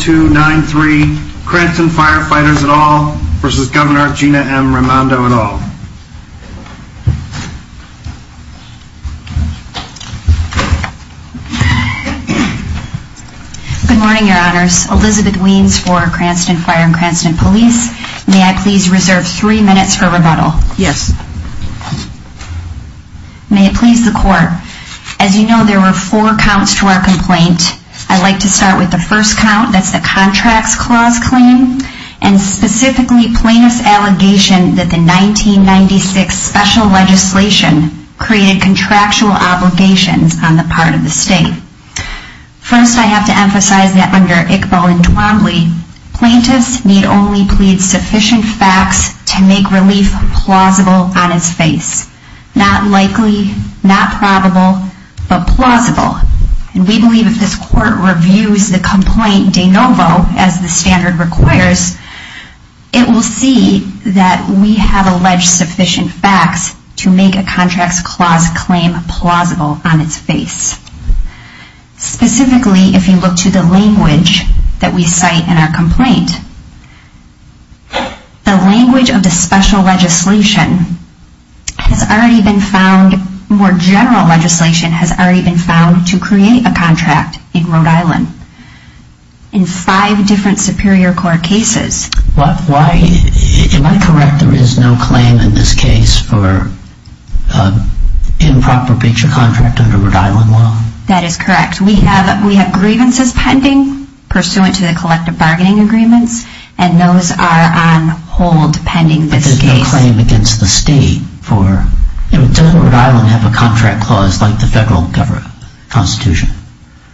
293 Cranston Firefighters et al. v. Gov. Gina M. Raimondo et al. Good morning, your honors. Elizabeth Wiens for Cranston Fire and Cranston Police. May I please reserve three minutes for rebuttal? Yes. May it please the court. As you know, there were four counts to our complaint. I'd like to start with the first count, that's the Contracts Clause claim, and specifically plaintiff's allegation that the 1996 special legislation created contractual obligations on the part of the state. First, I have to emphasize that under Iqbal and Twombly, plaintiffs need only plead sufficient facts to make relief plausible on his face. Not likely, not probable, but plausible. And we believe if this court reviews the complaint de novo, as the standard requires, it will see that we have alleged sufficient facts to make a Contracts Clause claim plausible on its face. Specifically, if you look to the language that we cite in our complaint, the language of the special legislation has already been found, more general legislation has already been found to create a contract in Rhode Island in five different Superior Court cases. Am I correct, there is no claim in this case for improper feature contract under Rhode Island law? That is correct. We have grievances pending pursuant to the collective bargaining agreements, and those are on hold pending this case. Why is there no claim against the state for, doesn't Rhode Island have a contract clause like the federal constitution?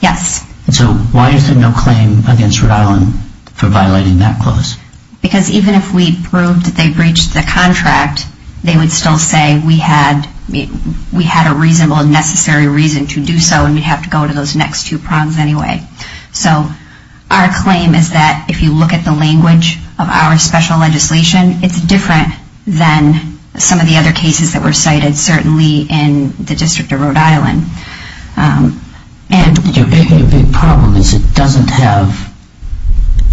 Yes. So why is there no claim against Rhode Island for violating that clause? Because even if we proved that they breached the contract, they would still say we had a reasonable and necessary reason to do so, and we'd have to go to those next two prongs anyway. So our claim is that if you look at the language of our special legislation, it's different than some of the other cases that were cited, certainly in the District of Rhode Island. The problem is it doesn't have,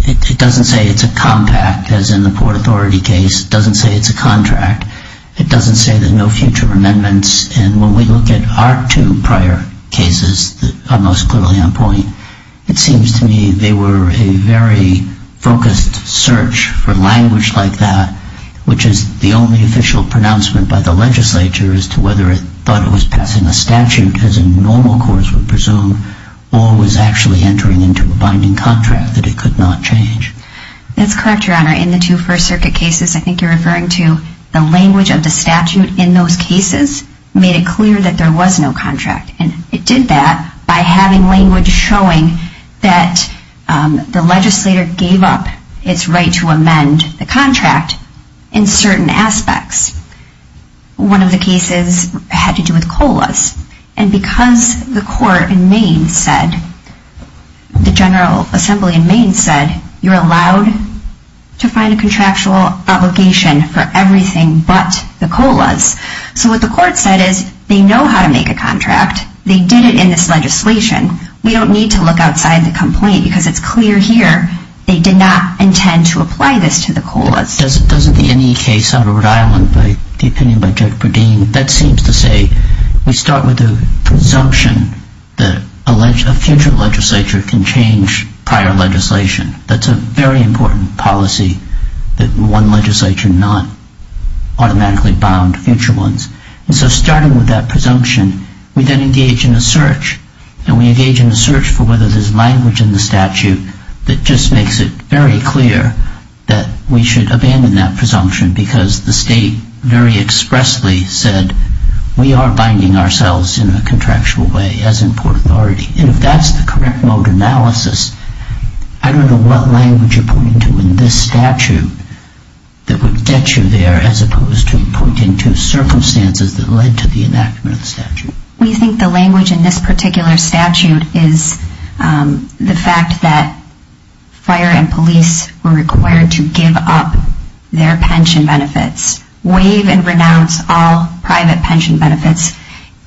it doesn't say it's a compact, as in the Port Authority case. It doesn't say it's a contract. It doesn't say there's no future amendments, and when we look at our two prior cases that are most clearly on point, it seems to me they were a very focused search for language like that, which is the only official pronouncement by the legislature as to whether it thought it was passing a statute, as in normal courts would presume, or was actually entering into a binding contract that it could not change. That's correct, Your Honor. In the two First Circuit cases, I think you're referring to the language of the statute in those cases made it clear that there was no contract, and it did that by having language showing that the legislator gave up its right to amend the contract in certain aspects. One of the cases had to do with COLAs, and because the court in Maine said, the General Assembly in Maine said, you're allowed to find a contractual obligation for everything but the COLAs. So what the court said is, they know how to make a contract. They did it in this legislation. We don't need to look outside the complaint because it's clear here they did not intend to apply this to the COLAs. Doesn't the NE case out of Rhode Island, the opinion by Judge Bredin, that seems to say we start with the presumption that a future legislature can change prior legislation. That's a very important policy, that one legislature not automatically bound future ones. And so starting with that presumption, we then engage in a search, and we engage in a search for whether there's language in the statute that just makes it very clear that we should abandon that presumption because the state very expressly said, we are binding ourselves in a contractual way as in Port Authority. And if that's the correct mode analysis, I don't know what language you're pointing to in this statute that would get you there as opposed to pointing to circumstances that led to the enactment of the statute. We think the language in this particular statute is the fact that fire and police were required to give up their pension benefits, waive and renounce all private pension benefits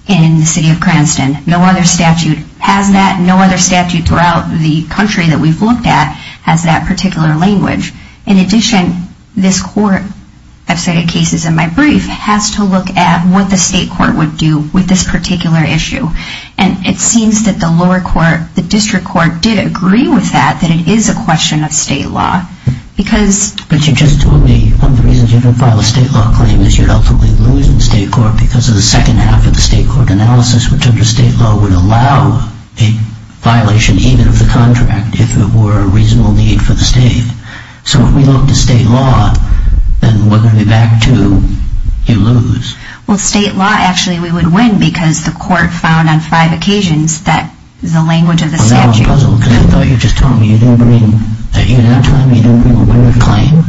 in the city of Cranston. No other statute has that. And no other statute throughout the country that we've looked at has that particular language. In addition, this court, I've cited cases in my brief, has to look at what the state court would do with this particular issue. And it seems that the lower court, the district court, did agree with that, that it is a question of state law. But you just told me one of the reasons you didn't file a state law claim is you'd ultimately lose the state court because of the second half of the state court analysis, which under state law would allow a violation even of the contract if there were a reasonable need for the state. So if we look to state law, then we're going to be back to you lose. Well, state law, actually, we would win because the court found on five occasions that the language of the statute... Well, that was a puzzle because I thought you just told me you didn't bring... You did not tell me you didn't bring a winner claim.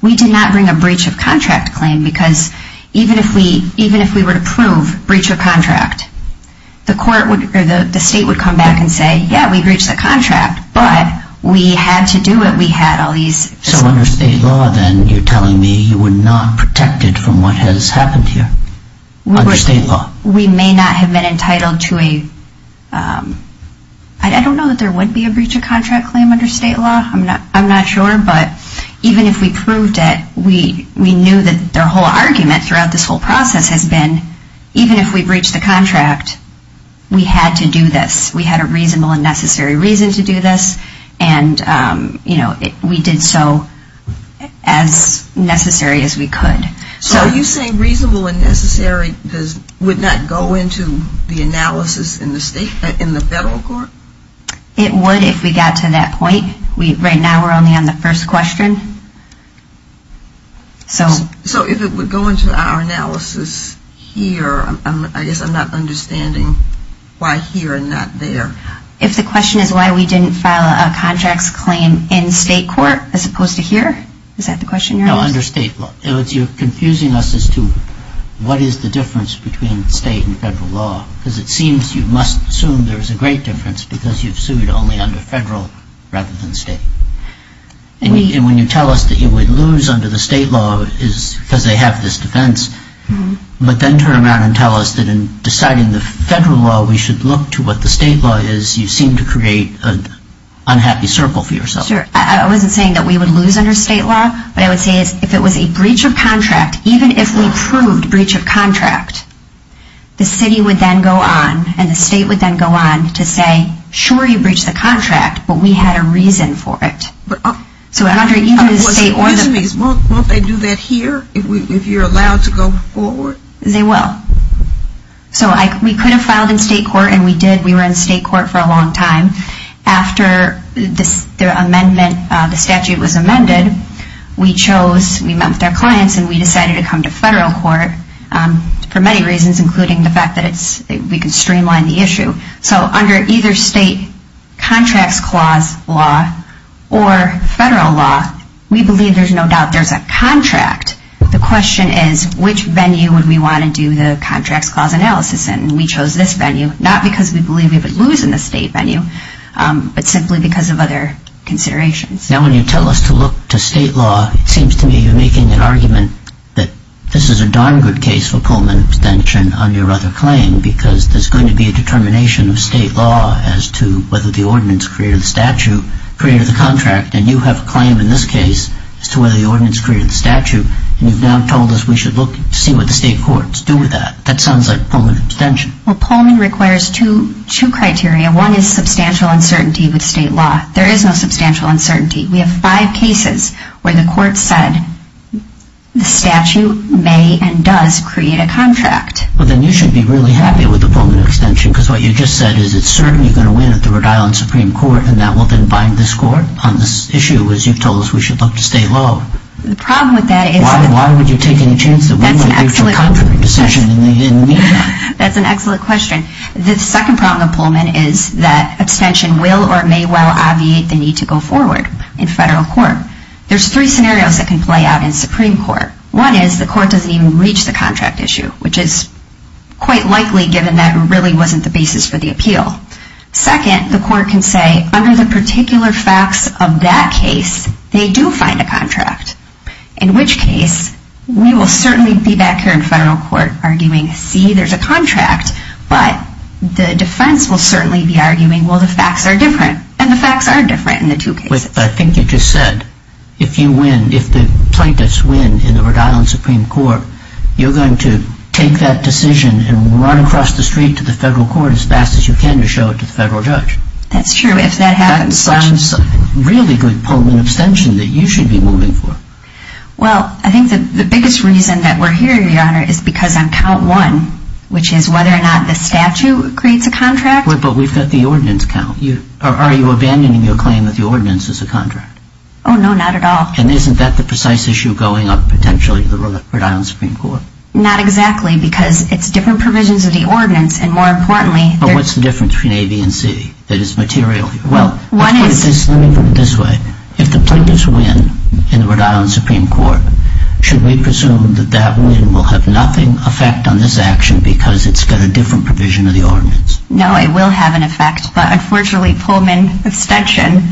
We did not bring a breach of contract claim because even if we were to prove breach of contract, the state would come back and say, yeah, we breached the contract, but we had to do it. We had all these... So under state law, then, you're telling me you were not protected from what has happened here under state law? We may not have been entitled to a... I don't know that there would be a breach of contract claim under state law. I'm not sure, but even if we proved it, we knew that their whole argument throughout this whole process has been even if we breached the contract, we had to do this. We had a reasonable and necessary reason to do this, and we did so as necessary as we could. So are you saying reasonable and necessary would not go into the analysis in the federal court? It would if we got to that point. Right now we're only on the first question. So if it would go into our analysis here, I guess I'm not understanding why here and not there. If the question is why we didn't file a contracts claim in state court as opposed to here, is that the question you're asking? No, under state law. You're confusing us as to what is the difference between state and federal law, because it seems you must assume there is a great difference because you've sued only under federal rather than state. And when you tell us that you would lose under the state law because they have this defense, but then turn around and tell us that in deciding the federal law we should look to what the state law is, you seem to create an unhappy circle for yourself. Sure. I wasn't saying that we would lose under state law. What I would say is if it was a breach of contract, even if we proved breach of contract, the city would then go on and the state would then go on to say, sure, you breached the contract, but we had a reason for it. So under either the state or the... Won't they do that here if you're allowed to go forward? They will. So we could have filed in state court, and we did. We were in state court for a long time. After the amendment, the statute was amended, we chose, we met with our clients, and we decided to come to federal court for many reasons, including the fact that we could streamline the issue. So under either state contracts clause law or federal law, we believe there's no doubt there's a contract. The question is which venue would we want to do the contracts clause analysis in, and we chose this venue, not because we believe we would lose in the state venue, but simply because of other considerations. Now when you tell us to look to state law, it seems to me you're making an argument that this is a darn good case for Pullman abstention on your other claim because there's going to be a determination of state law as to whether the ordinance created the statute, created the contract, and you have a claim in this case as to whether the ordinance created the statute, and you've now told us we should look to see what the state courts do with that. That sounds like Pullman abstention. Well, Pullman requires two criteria. One is substantial uncertainty with state law. There is no substantial uncertainty. We have five cases where the court said the statute may and does create a contract. Well, then you should be really happy with the Pullman abstention because what you just said is it's certainly going to win at the Rhode Island Supreme Court and that will then bind this court on this issue as you've told us we should look to state law. The problem with that is that... Why would you take any chance that we might reach a contrary decision in the meantime? That's an excellent question. The second problem with Pullman is that abstention will or may well obviate the need to go forward. In federal court, there's three scenarios that can play out in Supreme Court. One is the court doesn't even reach the contract issue, which is quite likely given that it really wasn't the basis for the appeal. Second, the court can say, under the particular facts of that case, they do find a contract, in which case we will certainly be back here in federal court arguing, see, there's a contract, but the defense will certainly be arguing, well, the facts are different, and the facts are different in the two cases. I think you just said if you win, if the plaintiffs win in the Rhode Island Supreme Court, you're going to take that decision and run across the street to the federal court as fast as you can to show it to the federal judge. That's true. If that happens... That sounds like a really good Pullman abstention that you should be moving for. Well, I think the biggest reason that we're here, Your Honor, is because on count one, which is whether or not the statute creates a contract... Sure, but we've got the ordinance count. Are you abandoning your claim that the ordinance is a contract? Oh, no, not at all. And isn't that the precise issue going up, potentially, to the Rhode Island Supreme Court? Not exactly, because it's different provisions of the ordinance, and more importantly... But what's the difference between A, B, and C that is material? Well, let's put it this way. If the plaintiffs win in the Rhode Island Supreme Court, should we presume that that win will have nothing effect on this action because it's got a different provision of the ordinance? No, it will have an effect, but unfortunately, Pullman abstention,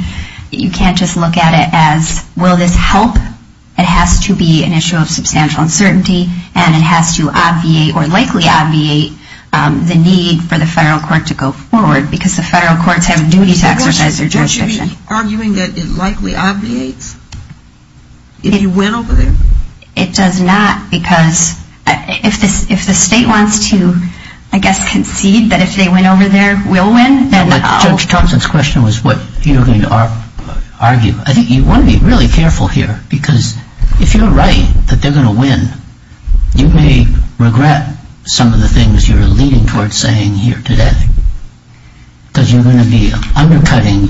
you can't just look at it as, will this help? It has to be an issue of substantial uncertainty, and it has to obviate or likely obviate the need for the federal court to go forward because the federal courts have a duty to exercise their jurisdiction. Don't you be arguing that it likely obviates if you win over there? It does not, because if the state wants to, I guess, concede that if they win over there, we'll win, then... Judge Thompson's question was what you're going to argue. I think you want to be really careful here, because if you're right that they're going to win, you may regret some of the things you're leading towards saying here today, because you're going to be undercutting...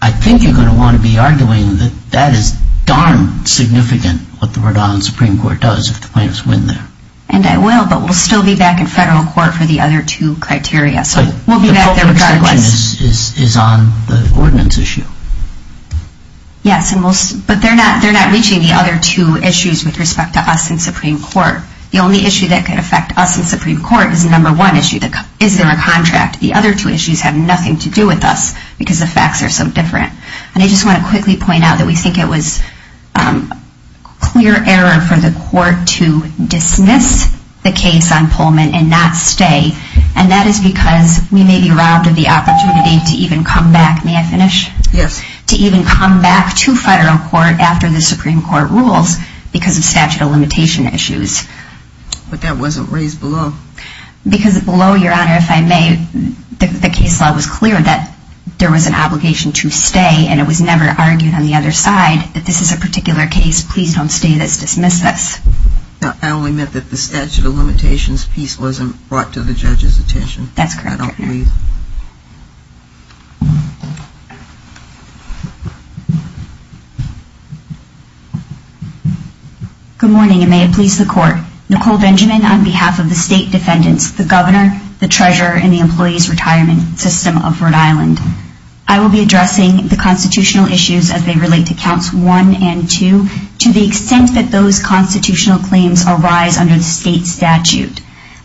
I think you're going to want to be arguing that that is darn significant, what the Rhode Island Supreme Court does, if the plaintiffs win there. And I will, but we'll still be back in federal court for the other two criteria. But the Pullman abstention is on the ordinance issue. Yes, but they're not reaching the other two issues with respect to us in Supreme Court. The only issue that could affect us in Supreme Court is the number one issue, is there a contract? The other two issues have nothing to do with us, because the facts are so different. And I just want to quickly point out that we think it was clear error for the court to dismiss the case on Pullman and not stay, and that is because we may be robbed of the opportunity to even come back. May I finish? Yes. To even come back to federal court after the Supreme Court rules, because of statute of limitation issues. But that wasn't raised below. Because below, Your Honor, if I may, the case law was clear that there was an obligation to stay, and it was never argued on the other side that this is a particular case, please don't stay, let's dismiss this. I only meant that the statute of limitations piece wasn't brought to the judge's attention. That's correct. I don't believe. Good morning, and may it please the court. Nicole Benjamin on behalf of the state defendants, the governor, the treasurer, and the employees retirement system of Rhode Island. I will be addressing the constitutional issues as they relate to counts one and two to the extent that those constitutional claims arise under the state statute.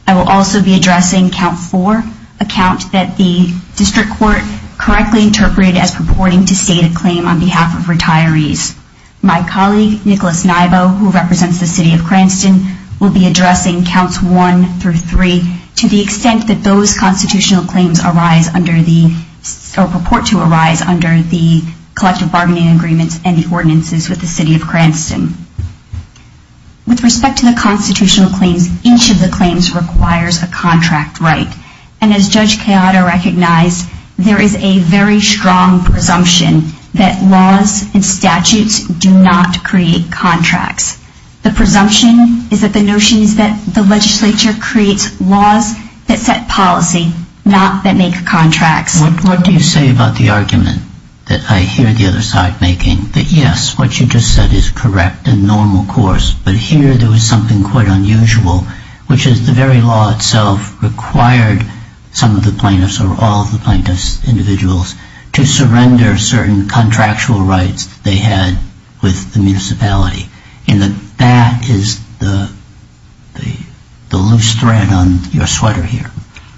I will also be addressing count four, a count that the district court correctly interpreted as purporting to state a claim on behalf of retirees. My colleague, Nicholas Nybo, who represents the city of Cranston, will be addressing counts one through three to the extent that those constitutional claims arise under the, or purport to arise under the collective bargaining agreements and the ordinances with the city of Cranston. With respect to the constitutional claims, each of the claims requires a contract right. And as Judge Keado recognized, there is a very strong presumption that laws and statutes do not create contracts. The presumption is that the notion is that the legislature creates laws that set policy, not that make contracts. What do you say about the argument that I hear the other side making, that yes, what you just said is correct and normal course, but here there was something quite unusual, which is the very law itself required some of the plaintiffs or all of the plaintiffs, individuals, to surrender certain contractual rights they had with the municipality. And that is the loose thread on your sweater here.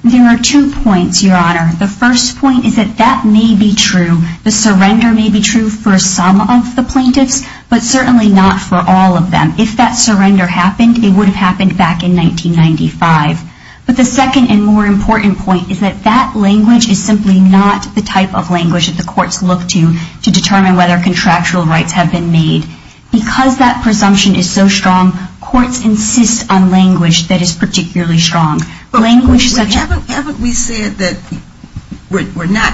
There are two points, Your Honor. The first point is that that may be true. The surrender may be true for some of the plaintiffs, but certainly not for all of them. If that surrender happened, it would have happened back in 1995. But the second and more important point is that that language is simply not the type of language that the courts look to to determine whether contractual rights have been made. Because that presumption is so strong, courts insist on language that is particularly strong. Language such as – Haven't we said that we're not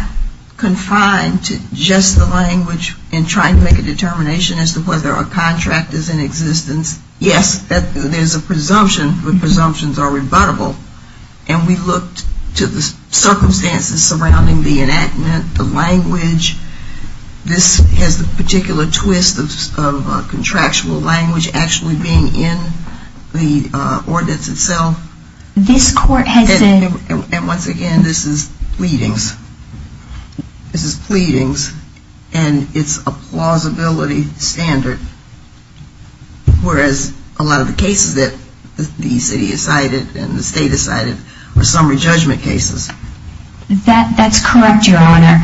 confined to just the language and trying to make a determination as to whether a contract is in existence? Yes, there's a presumption, but presumptions are rebuttable. And we looked to the circumstances surrounding the enactment, the language. This has the particular twist of contractual language actually being in the ordinance itself. This court has said – And once again, this is pleadings. This is pleadings, and it's a plausibility standard, whereas a lot of the cases that the city has cited and the state has cited are summary judgment cases. That's correct, Your Honor.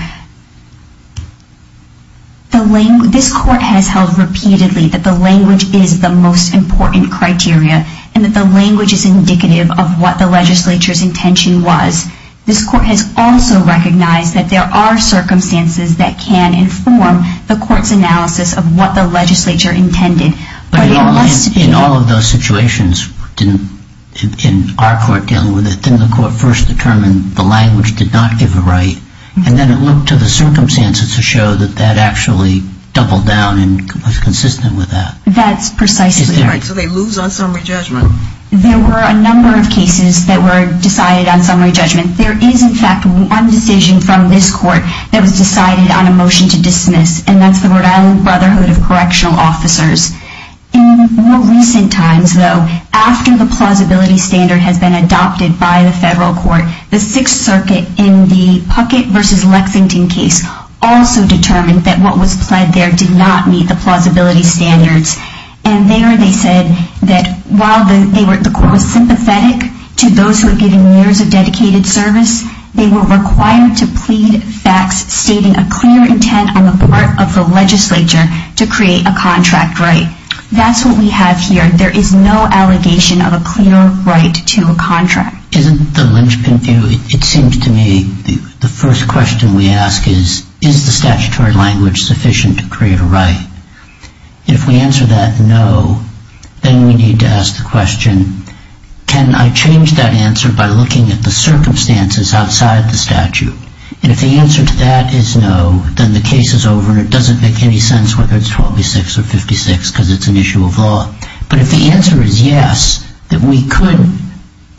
This court has held repeatedly that the language is the most important criteria and that the language is indicative of what the legislature's intention was. This court has also recognized that there are circumstances that can inform the court's analysis of what the legislature intended. But it must be – In all of those situations, in our court dealing with it, didn't the court first determine the language did not give a right, and then it looked to the circumstances to show that that actually doubled down and was consistent with that? That's precisely right. So they lose on summary judgment. There were a number of cases that were decided on summary judgment. There is, in fact, one decision from this court that was decided on a motion to dismiss, and that's the Rhode Island Brotherhood of Correctional Officers. In more recent times, though, after the plausibility standard has been adopted by the federal court, the Sixth Circuit in the Puckett v. Lexington case also determined that what was pled there did not meet the plausibility standards. And there they said that while the court was sympathetic to those who had given years of dedicated service, they were required to plead facts stating a clear intent on the part of the legislature to create a contract right. That's what we have here. There is no allegation of a clear right to a contract. Isn't the lynchpin view, it seems to me, the first question we ask is, is the statutory language sufficient to create a right? If we answer that no, then we need to ask the question, can I change that answer by looking at the circumstances outside the statute? And if the answer to that is no, then the case is over and it doesn't make any sense whether it's 126 or 56 because it's an issue of law. But if the answer is yes, that we could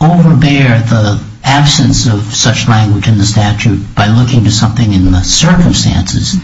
overbear the absence of such language in the statute by looking to something in the circumstances,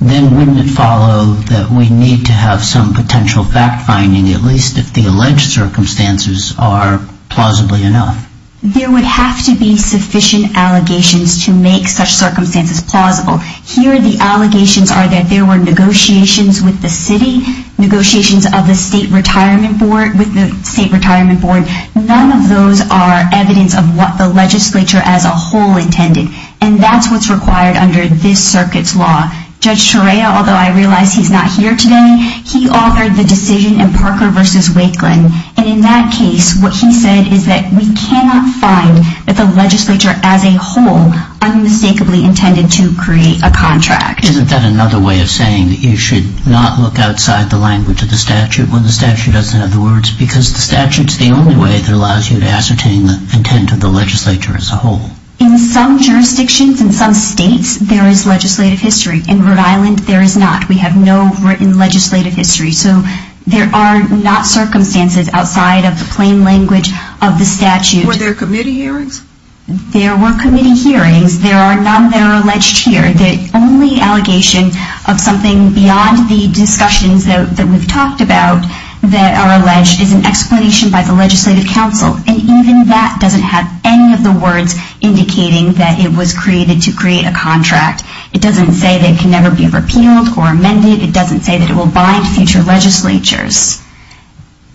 then wouldn't it follow that we need to have some potential fact-finding, at least if the alleged circumstances are plausibly enough? There would have to be sufficient allegations to make such circumstances plausible. Here the allegations are that there were negotiations with the city, negotiations with the state retirement board. None of those are evidence of what the legislature as a whole intended. And that's what's required under this circuit's law. Judge Torea, although I realize he's not here today, he authored the decision in Parker v. Wakeland. And in that case, what he said is that we cannot find that the legislature as a whole unmistakably intended to create a contract. Isn't that another way of saying that you should not look outside the language of the statute when the statute doesn't have the words? Because the statute's the only way that allows you to ascertain the intent of the legislature as a whole. In some jurisdictions, in some states, there is legislative history. In Rhode Island, there is not. We have no written legislative history. So there are not circumstances outside of the plain language of the statute. Were there committee hearings? There were committee hearings. None that are alleged here. The only allegation of something beyond the discussions that we've talked about that are alleged is an explanation by the legislative council. And even that doesn't have any of the words indicating that it was created to create a contract. It doesn't say that it can never be repealed or amended. It doesn't say that it will bind future legislatures.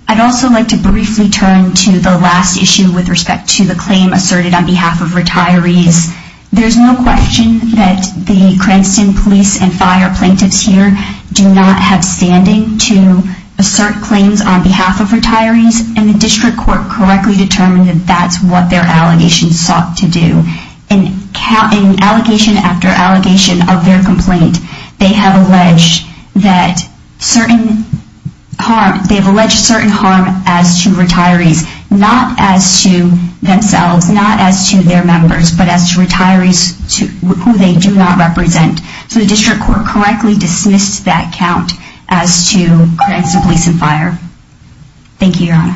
I'd also like to briefly turn to the last issue with respect to the claim asserted on behalf of retirees. There's no question that the Cranston police and fire plaintiffs here do not have standing to assert claims on behalf of retirees, and the district court correctly determined that that's what their allegations sought to do. In allegation after allegation of their complaint, they have alleged certain harm as to retirees, not as to themselves, not as to their members, but as to retirees who they do not represent. So the district court correctly dismissed that count as to Cranston police and fire. Thank you, Your Honor.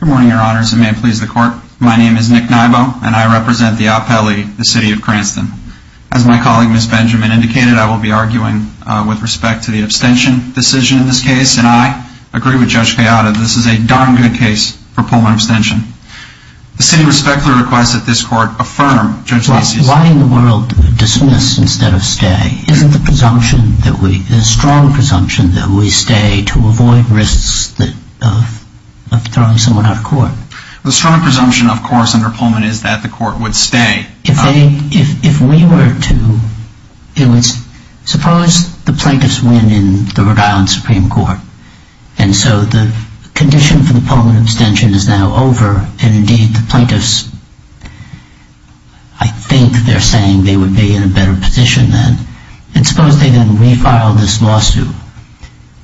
Good morning, Your Honors, and may it please the court. My name is Nick Nybo, and I represent the Apele, the city of Cranston. As my colleague, Ms. Benjamin, indicated, I will be arguing with respect to the abstention decision in this case, and I agree with Judge Cayada. This is a darn good case for Pullman abstention. The city respectfully requests that this court affirm Judge Lacey's... Why in the world dismiss instead of stay? Isn't the strong presumption that we stay to avoid risks of throwing someone out of court? The strong presumption, of course, under Pullman is that the court would stay. If we were to... Suppose the plaintiffs win in the Rhode Island Supreme Court, and so the condition for the Pullman abstention is now over, and indeed the plaintiffs... I think they're saying they would be in a better position then. And suppose they then refile this lawsuit.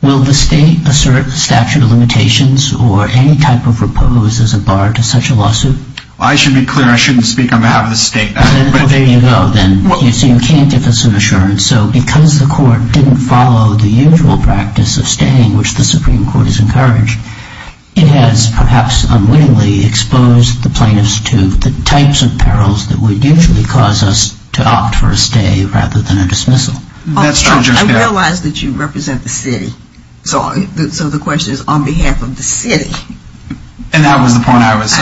Will the state assert statute of limitations or any type of repose as a bar to such a lawsuit? Well, I should be clear, I shouldn't speak on behalf of the state. Well, there you go then. So you can't give us an assurance. So because the court didn't follow the usual practice of staying, which the Supreme Court has encouraged, it has perhaps unwittingly exposed the plaintiffs to the types of perils that would usually cause us to opt for a stay rather than a dismissal. That's true, Judge Cayada. I realize that you represent the city. So the question is on behalf of the city. And that was the point I was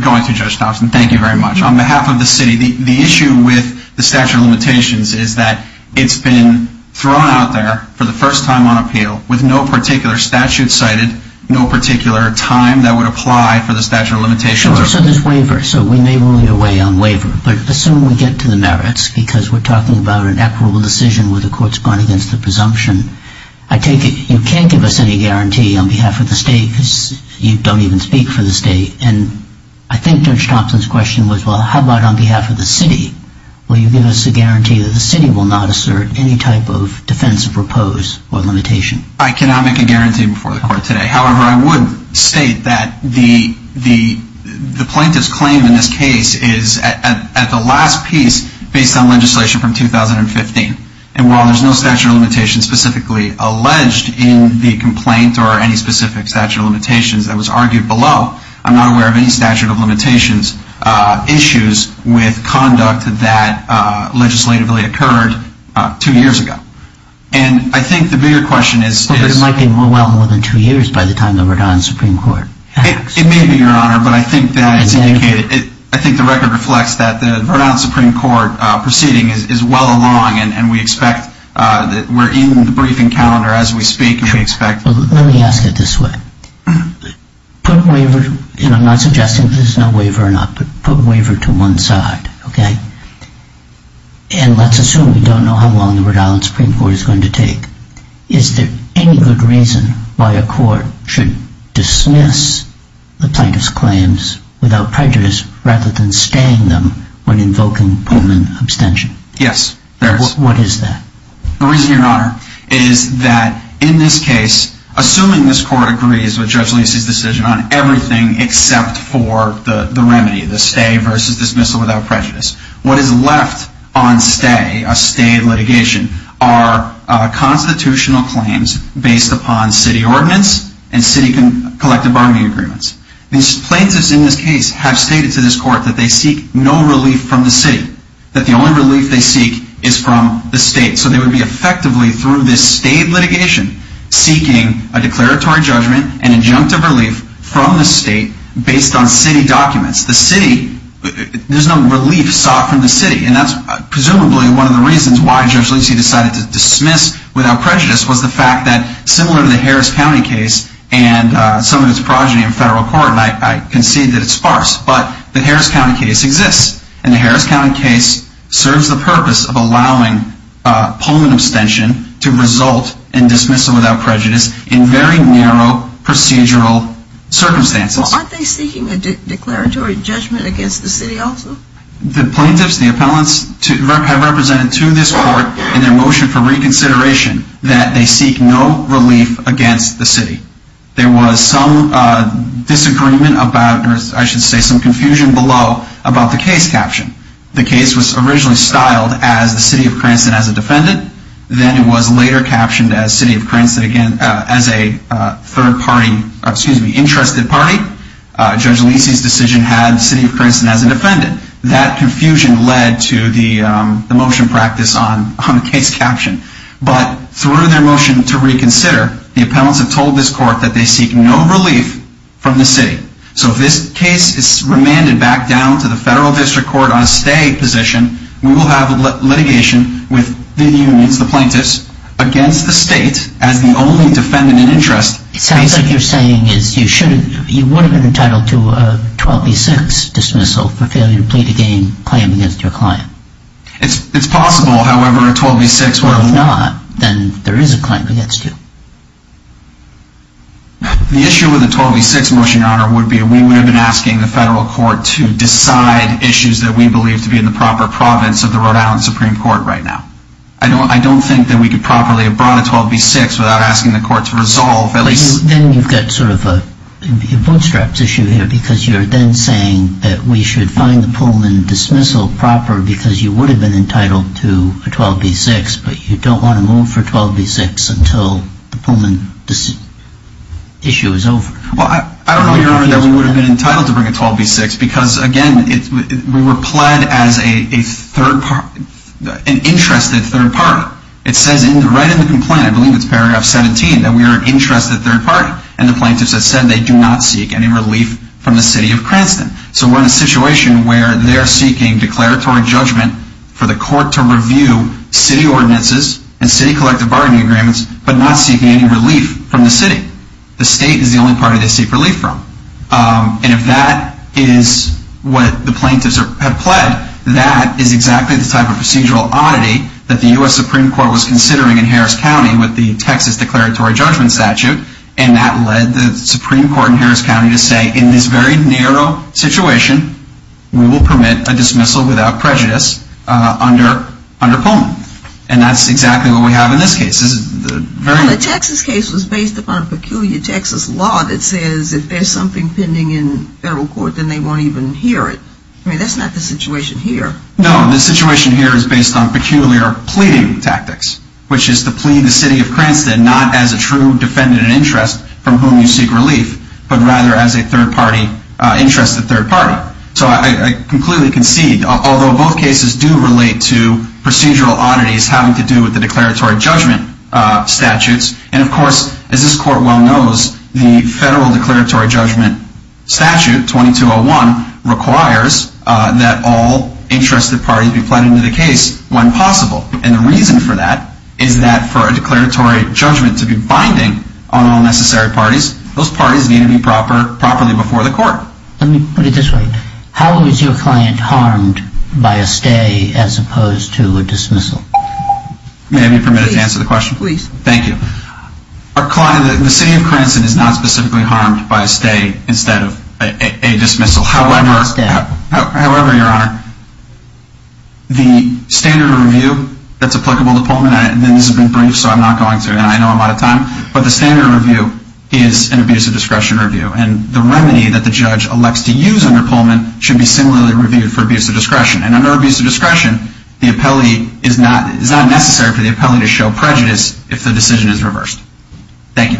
going to, Judge Thompson. Thank you very much. On behalf of the city, the issue with the statute of limitations is that it's been thrown out there for the first time on appeal with no particular statute cited, no particular time that would apply for the statute of limitations. So there's waiver. So we may rule your way on waiver. But assume we get to the merits because we're talking about an equitable decision where the court's gone against the presumption. I take it you can't give us any guarantee on behalf of the state because you don't even speak for the state. And I think Judge Thompson's question was, well, how about on behalf of the city? Will you give us a guarantee that the city will not assert any type of defense of repose or limitation? I cannot make a guarantee before the court today. However, I would state that the plaintiff's claim in this case is at the last piece based on legislation from 2015. And while there's no statute of limitations specifically alleged in the complaint or any specific statute of limitations that was argued below, I'm not aware of any statute of limitations issues with conduct that legislatively occurred two years ago. And I think the bigger question is... But it might be well more than two years by the time the Rhode Island Supreme Court acts. It may be, Your Honor, but I think that it's indicated. I think the record reflects that the Rhode Island Supreme Court proceeding is well along and we expect that we're in the briefing calendar as we speak. Let me ask it this way. Put a waiver, and I'm not suggesting that there's no waiver or not, but put a waiver to one side, okay? And let's assume we don't know how long the Rhode Island Supreme Court is going to take. Is there any good reason why a court should dismiss the plaintiff's claims without prejudice rather than staying them when invoking Pullman abstention? Yes, there is. What is that? The reason, Your Honor, is that in this case, assuming this court agrees with Judge Lacey's decision on everything except for the remedy, the stay versus dismissal without prejudice, what is left on stay, a stay of litigation, are constitutional claims based upon city ordinance and city collective bargaining agreements. These plaintiffs in this case have stated to this court that they seek no relief from the city, that the only relief they seek is from the state. So they would be effectively through this stay of litigation seeking a declaratory judgment and injunctive relief from the state based on city documents. The city, there's no relief sought from the city. And that's presumably one of the reasons why Judge Lacey decided to dismiss without prejudice was the fact that similar to the Harris County case and some of its progeny in federal court, and I concede that it's sparse, but the Harris County case exists. And the Harris County case serves the purpose of allowing Pullman abstention to result in dismissal without prejudice in very narrow procedural circumstances. Well, aren't they seeking a declaratory judgment against the city also? The plaintiffs, the appellants have represented to this court in their motion for reconsideration that they seek no relief against the city. There was some disagreement about, or I should say some confusion below about the case caption. The case was originally styled as the city of Cranston as a defendant. Then it was later captioned as a third party, excuse me, interested party. Judge Lacey's decision had the city of Cranston as a defendant. That confusion led to the motion practice on the case caption. But through their motion to reconsider, the appellants have told this court that they seek no relief from the city. So if this case is remanded back down to the federal district court on a stay position, we will have litigation with the unions, the plaintiffs, against the state as the only defendant in interest. It sounds like you're saying you would have been entitled to a 12B6 dismissal for failure to plead a claim against your client. It's possible, however, a 12B6... Well, if not, then there is a claim against you. The issue with a 12B6 motion, Your Honor, would be we would have been asking the federal court to decide issues that we believe to be in the proper province of the Rhode Island Supreme Court right now. I don't think that we could properly have brought a 12B6 without asking the court to resolve... Then you've got sort of a bootstraps issue here because you're then saying that we should find the Pullman dismissal proper because you would have been entitled to a 12B6, but you don't want to move for a 12B6 until the Pullman issue is over. Well, I don't know, Your Honor, that we would have been entitled to bring a 12B6 because, again, we were pled as an interested third party. It says right in the complaint, I believe it's paragraph 17, that we are an interested third party, and the plaintiffs have said they do not seek any relief from the city of Cranston. So we're in a situation where they're seeking declaratory judgment for the court to review city ordinances and city collective bargaining agreements, but not seeking any relief from the city. The state is the only party they seek relief from. And if that is what the plaintiffs have pled, that is exactly the type of procedural oddity that the U.S. Supreme Court was considering in Harris County with the Texas declaratory judgment statute, and that led the Supreme Court in Harris County to say, in this very narrow situation, we will permit a dismissal without prejudice under Pullman. And that's exactly what we have in this case. The Texas case was based upon a peculiar Texas law that says if there's something pending in federal court, then they won't even hear it. I mean, that's not the situation here. No, the situation here is based on peculiar pleading tactics, which is to plead the city of Cranston not as a true defendant in interest from whom you seek relief, but rather as a third party, interested third party. So I completely concede, although both cases do relate to procedural oddities having to do with the declaratory judgment statutes. And, of course, as this court well knows, the federal declaratory judgment statute, 2201, requires that all interested parties be pled into the case when possible. And the reason for that is that for a declaratory judgment to be binding on all necessary parties, those parties need to be properly before the court. Let me put it this way. How is your client harmed by a stay as opposed to a dismissal? May I be permitted to answer the question? Please. Thank you. Our client, the city of Cranston, is not specifically harmed by a stay instead of a dismissal. However, Your Honor, the standard review that's applicable to Pullman, and this has been briefed so I'm not going through it, and I know I'm out of time, but the standard review is an abuse of discretion review. And the remedy that the judge elects to use under Pullman should be similarly reviewed for abuse of discretion. And under abuse of discretion, the appellee is not necessary for the appellee to show prejudice if the decision is reversed. Thank you.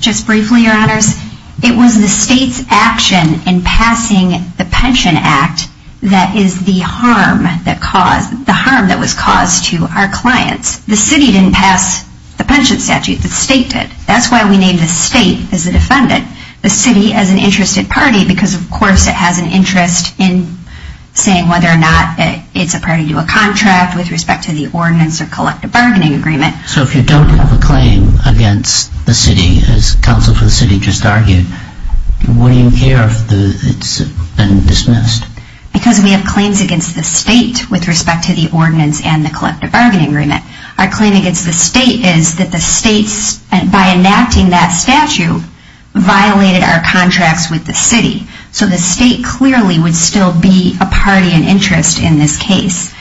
Just briefly, Your Honors. It was the state's action in passing the Pension Act that is the harm that was caused to our clients. The city didn't pass the pension statute. The state did. That's why we named the state as the defendant, the city as an interested party, because of course it has an interest in saying whether or not it's a party to a contract with respect to the ordinance or collective bargaining agreement. So if you don't have a claim against the city, as counsel for the city just argued, why do you care if it's been dismissed? Because we have claims against the state with respect to the ordinance and the collective bargaining agreement. Our claim against the state is that the state, by enacting that statute, violated our contracts with the city. So the state clearly would still be a party and interest in this case.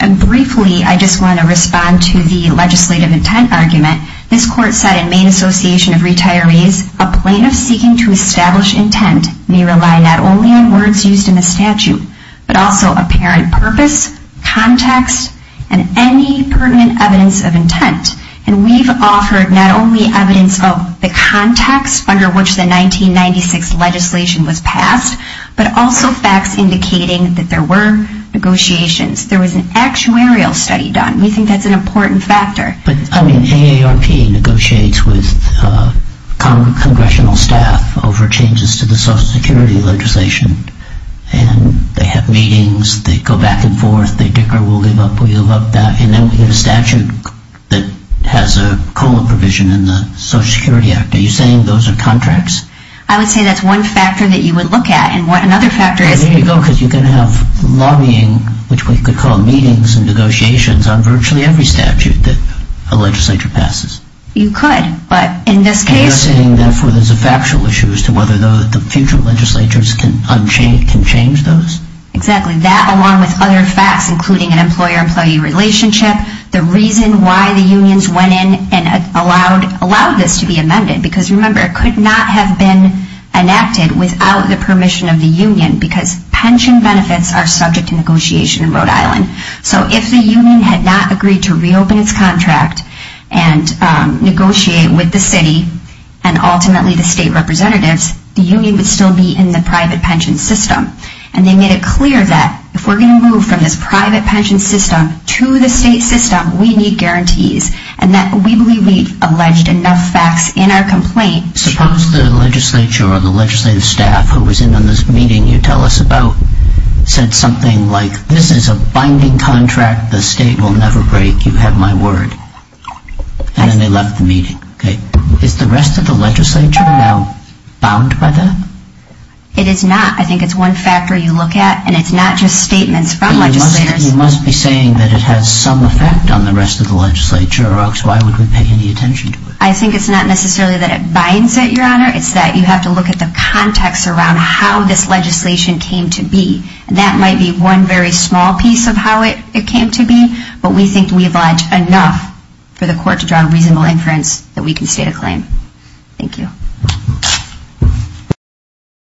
And briefly, I just want to respond to the legislative intent argument. This court said in Maine Association of Retirees, a plaintiff seeking to establish intent may rely not only on words used in the statute, but also apparent purpose, context, and any pertinent evidence of intent. And we've offered not only evidence of the context under which the 1996 legislation was passed, but also facts indicating that there were negotiations. There was an actuarial study done. We think that's an important factor. But, I mean, AARP negotiates with congressional staff over changes to the Social Security legislation. And they have meetings. They go back and forth. They dicker, we'll give up, we'll give up that. And then we have a statute that has a colon provision in the Social Security Act. Are you saying those are contracts? I would say that's one factor that you would look at. And another factor is- Well, there you go. Because you can have lobbying, which we could call meetings and negotiations, on virtually every statute that a legislature passes. You could. But in this case- And you're saying, therefore, there's a factual issue as to whether the future legislatures can change those? Exactly. That, along with other facts, including an employer-employee relationship, the reason why the unions went in and allowed this to be amended. Because, remember, it could not have been enacted without the permission of the union. Because pension benefits are subject to negotiation in Rhode Island. So if the union had not agreed to reopen its contract and negotiate with the city and ultimately the state representatives, the union would still be in the private pension system. And they made it clear that if we're going to move from this private pension system to the state system, we need guarantees. And we believe we've alleged enough facts in our complaint- Suppose the legislature or the legislative staff who was in on this meeting you tell us about said something like, this is a binding contract the state will never break, you have my word. And then they left the meeting. Is the rest of the legislature now bound by that? It is not. I think it's one factor you look at. And it's not just statements from legislators. You must be saying that it has some effect on the rest of the legislature. Why would we pay any attention to it? I think it's not necessarily that it binds it, Your Honor. It's that you have to look at the context around how this legislation came to be. And that might be one very small piece of how it came to be. But we think we've alleged enough for the court to draw a reasonable inference that we can state a claim. Thank you.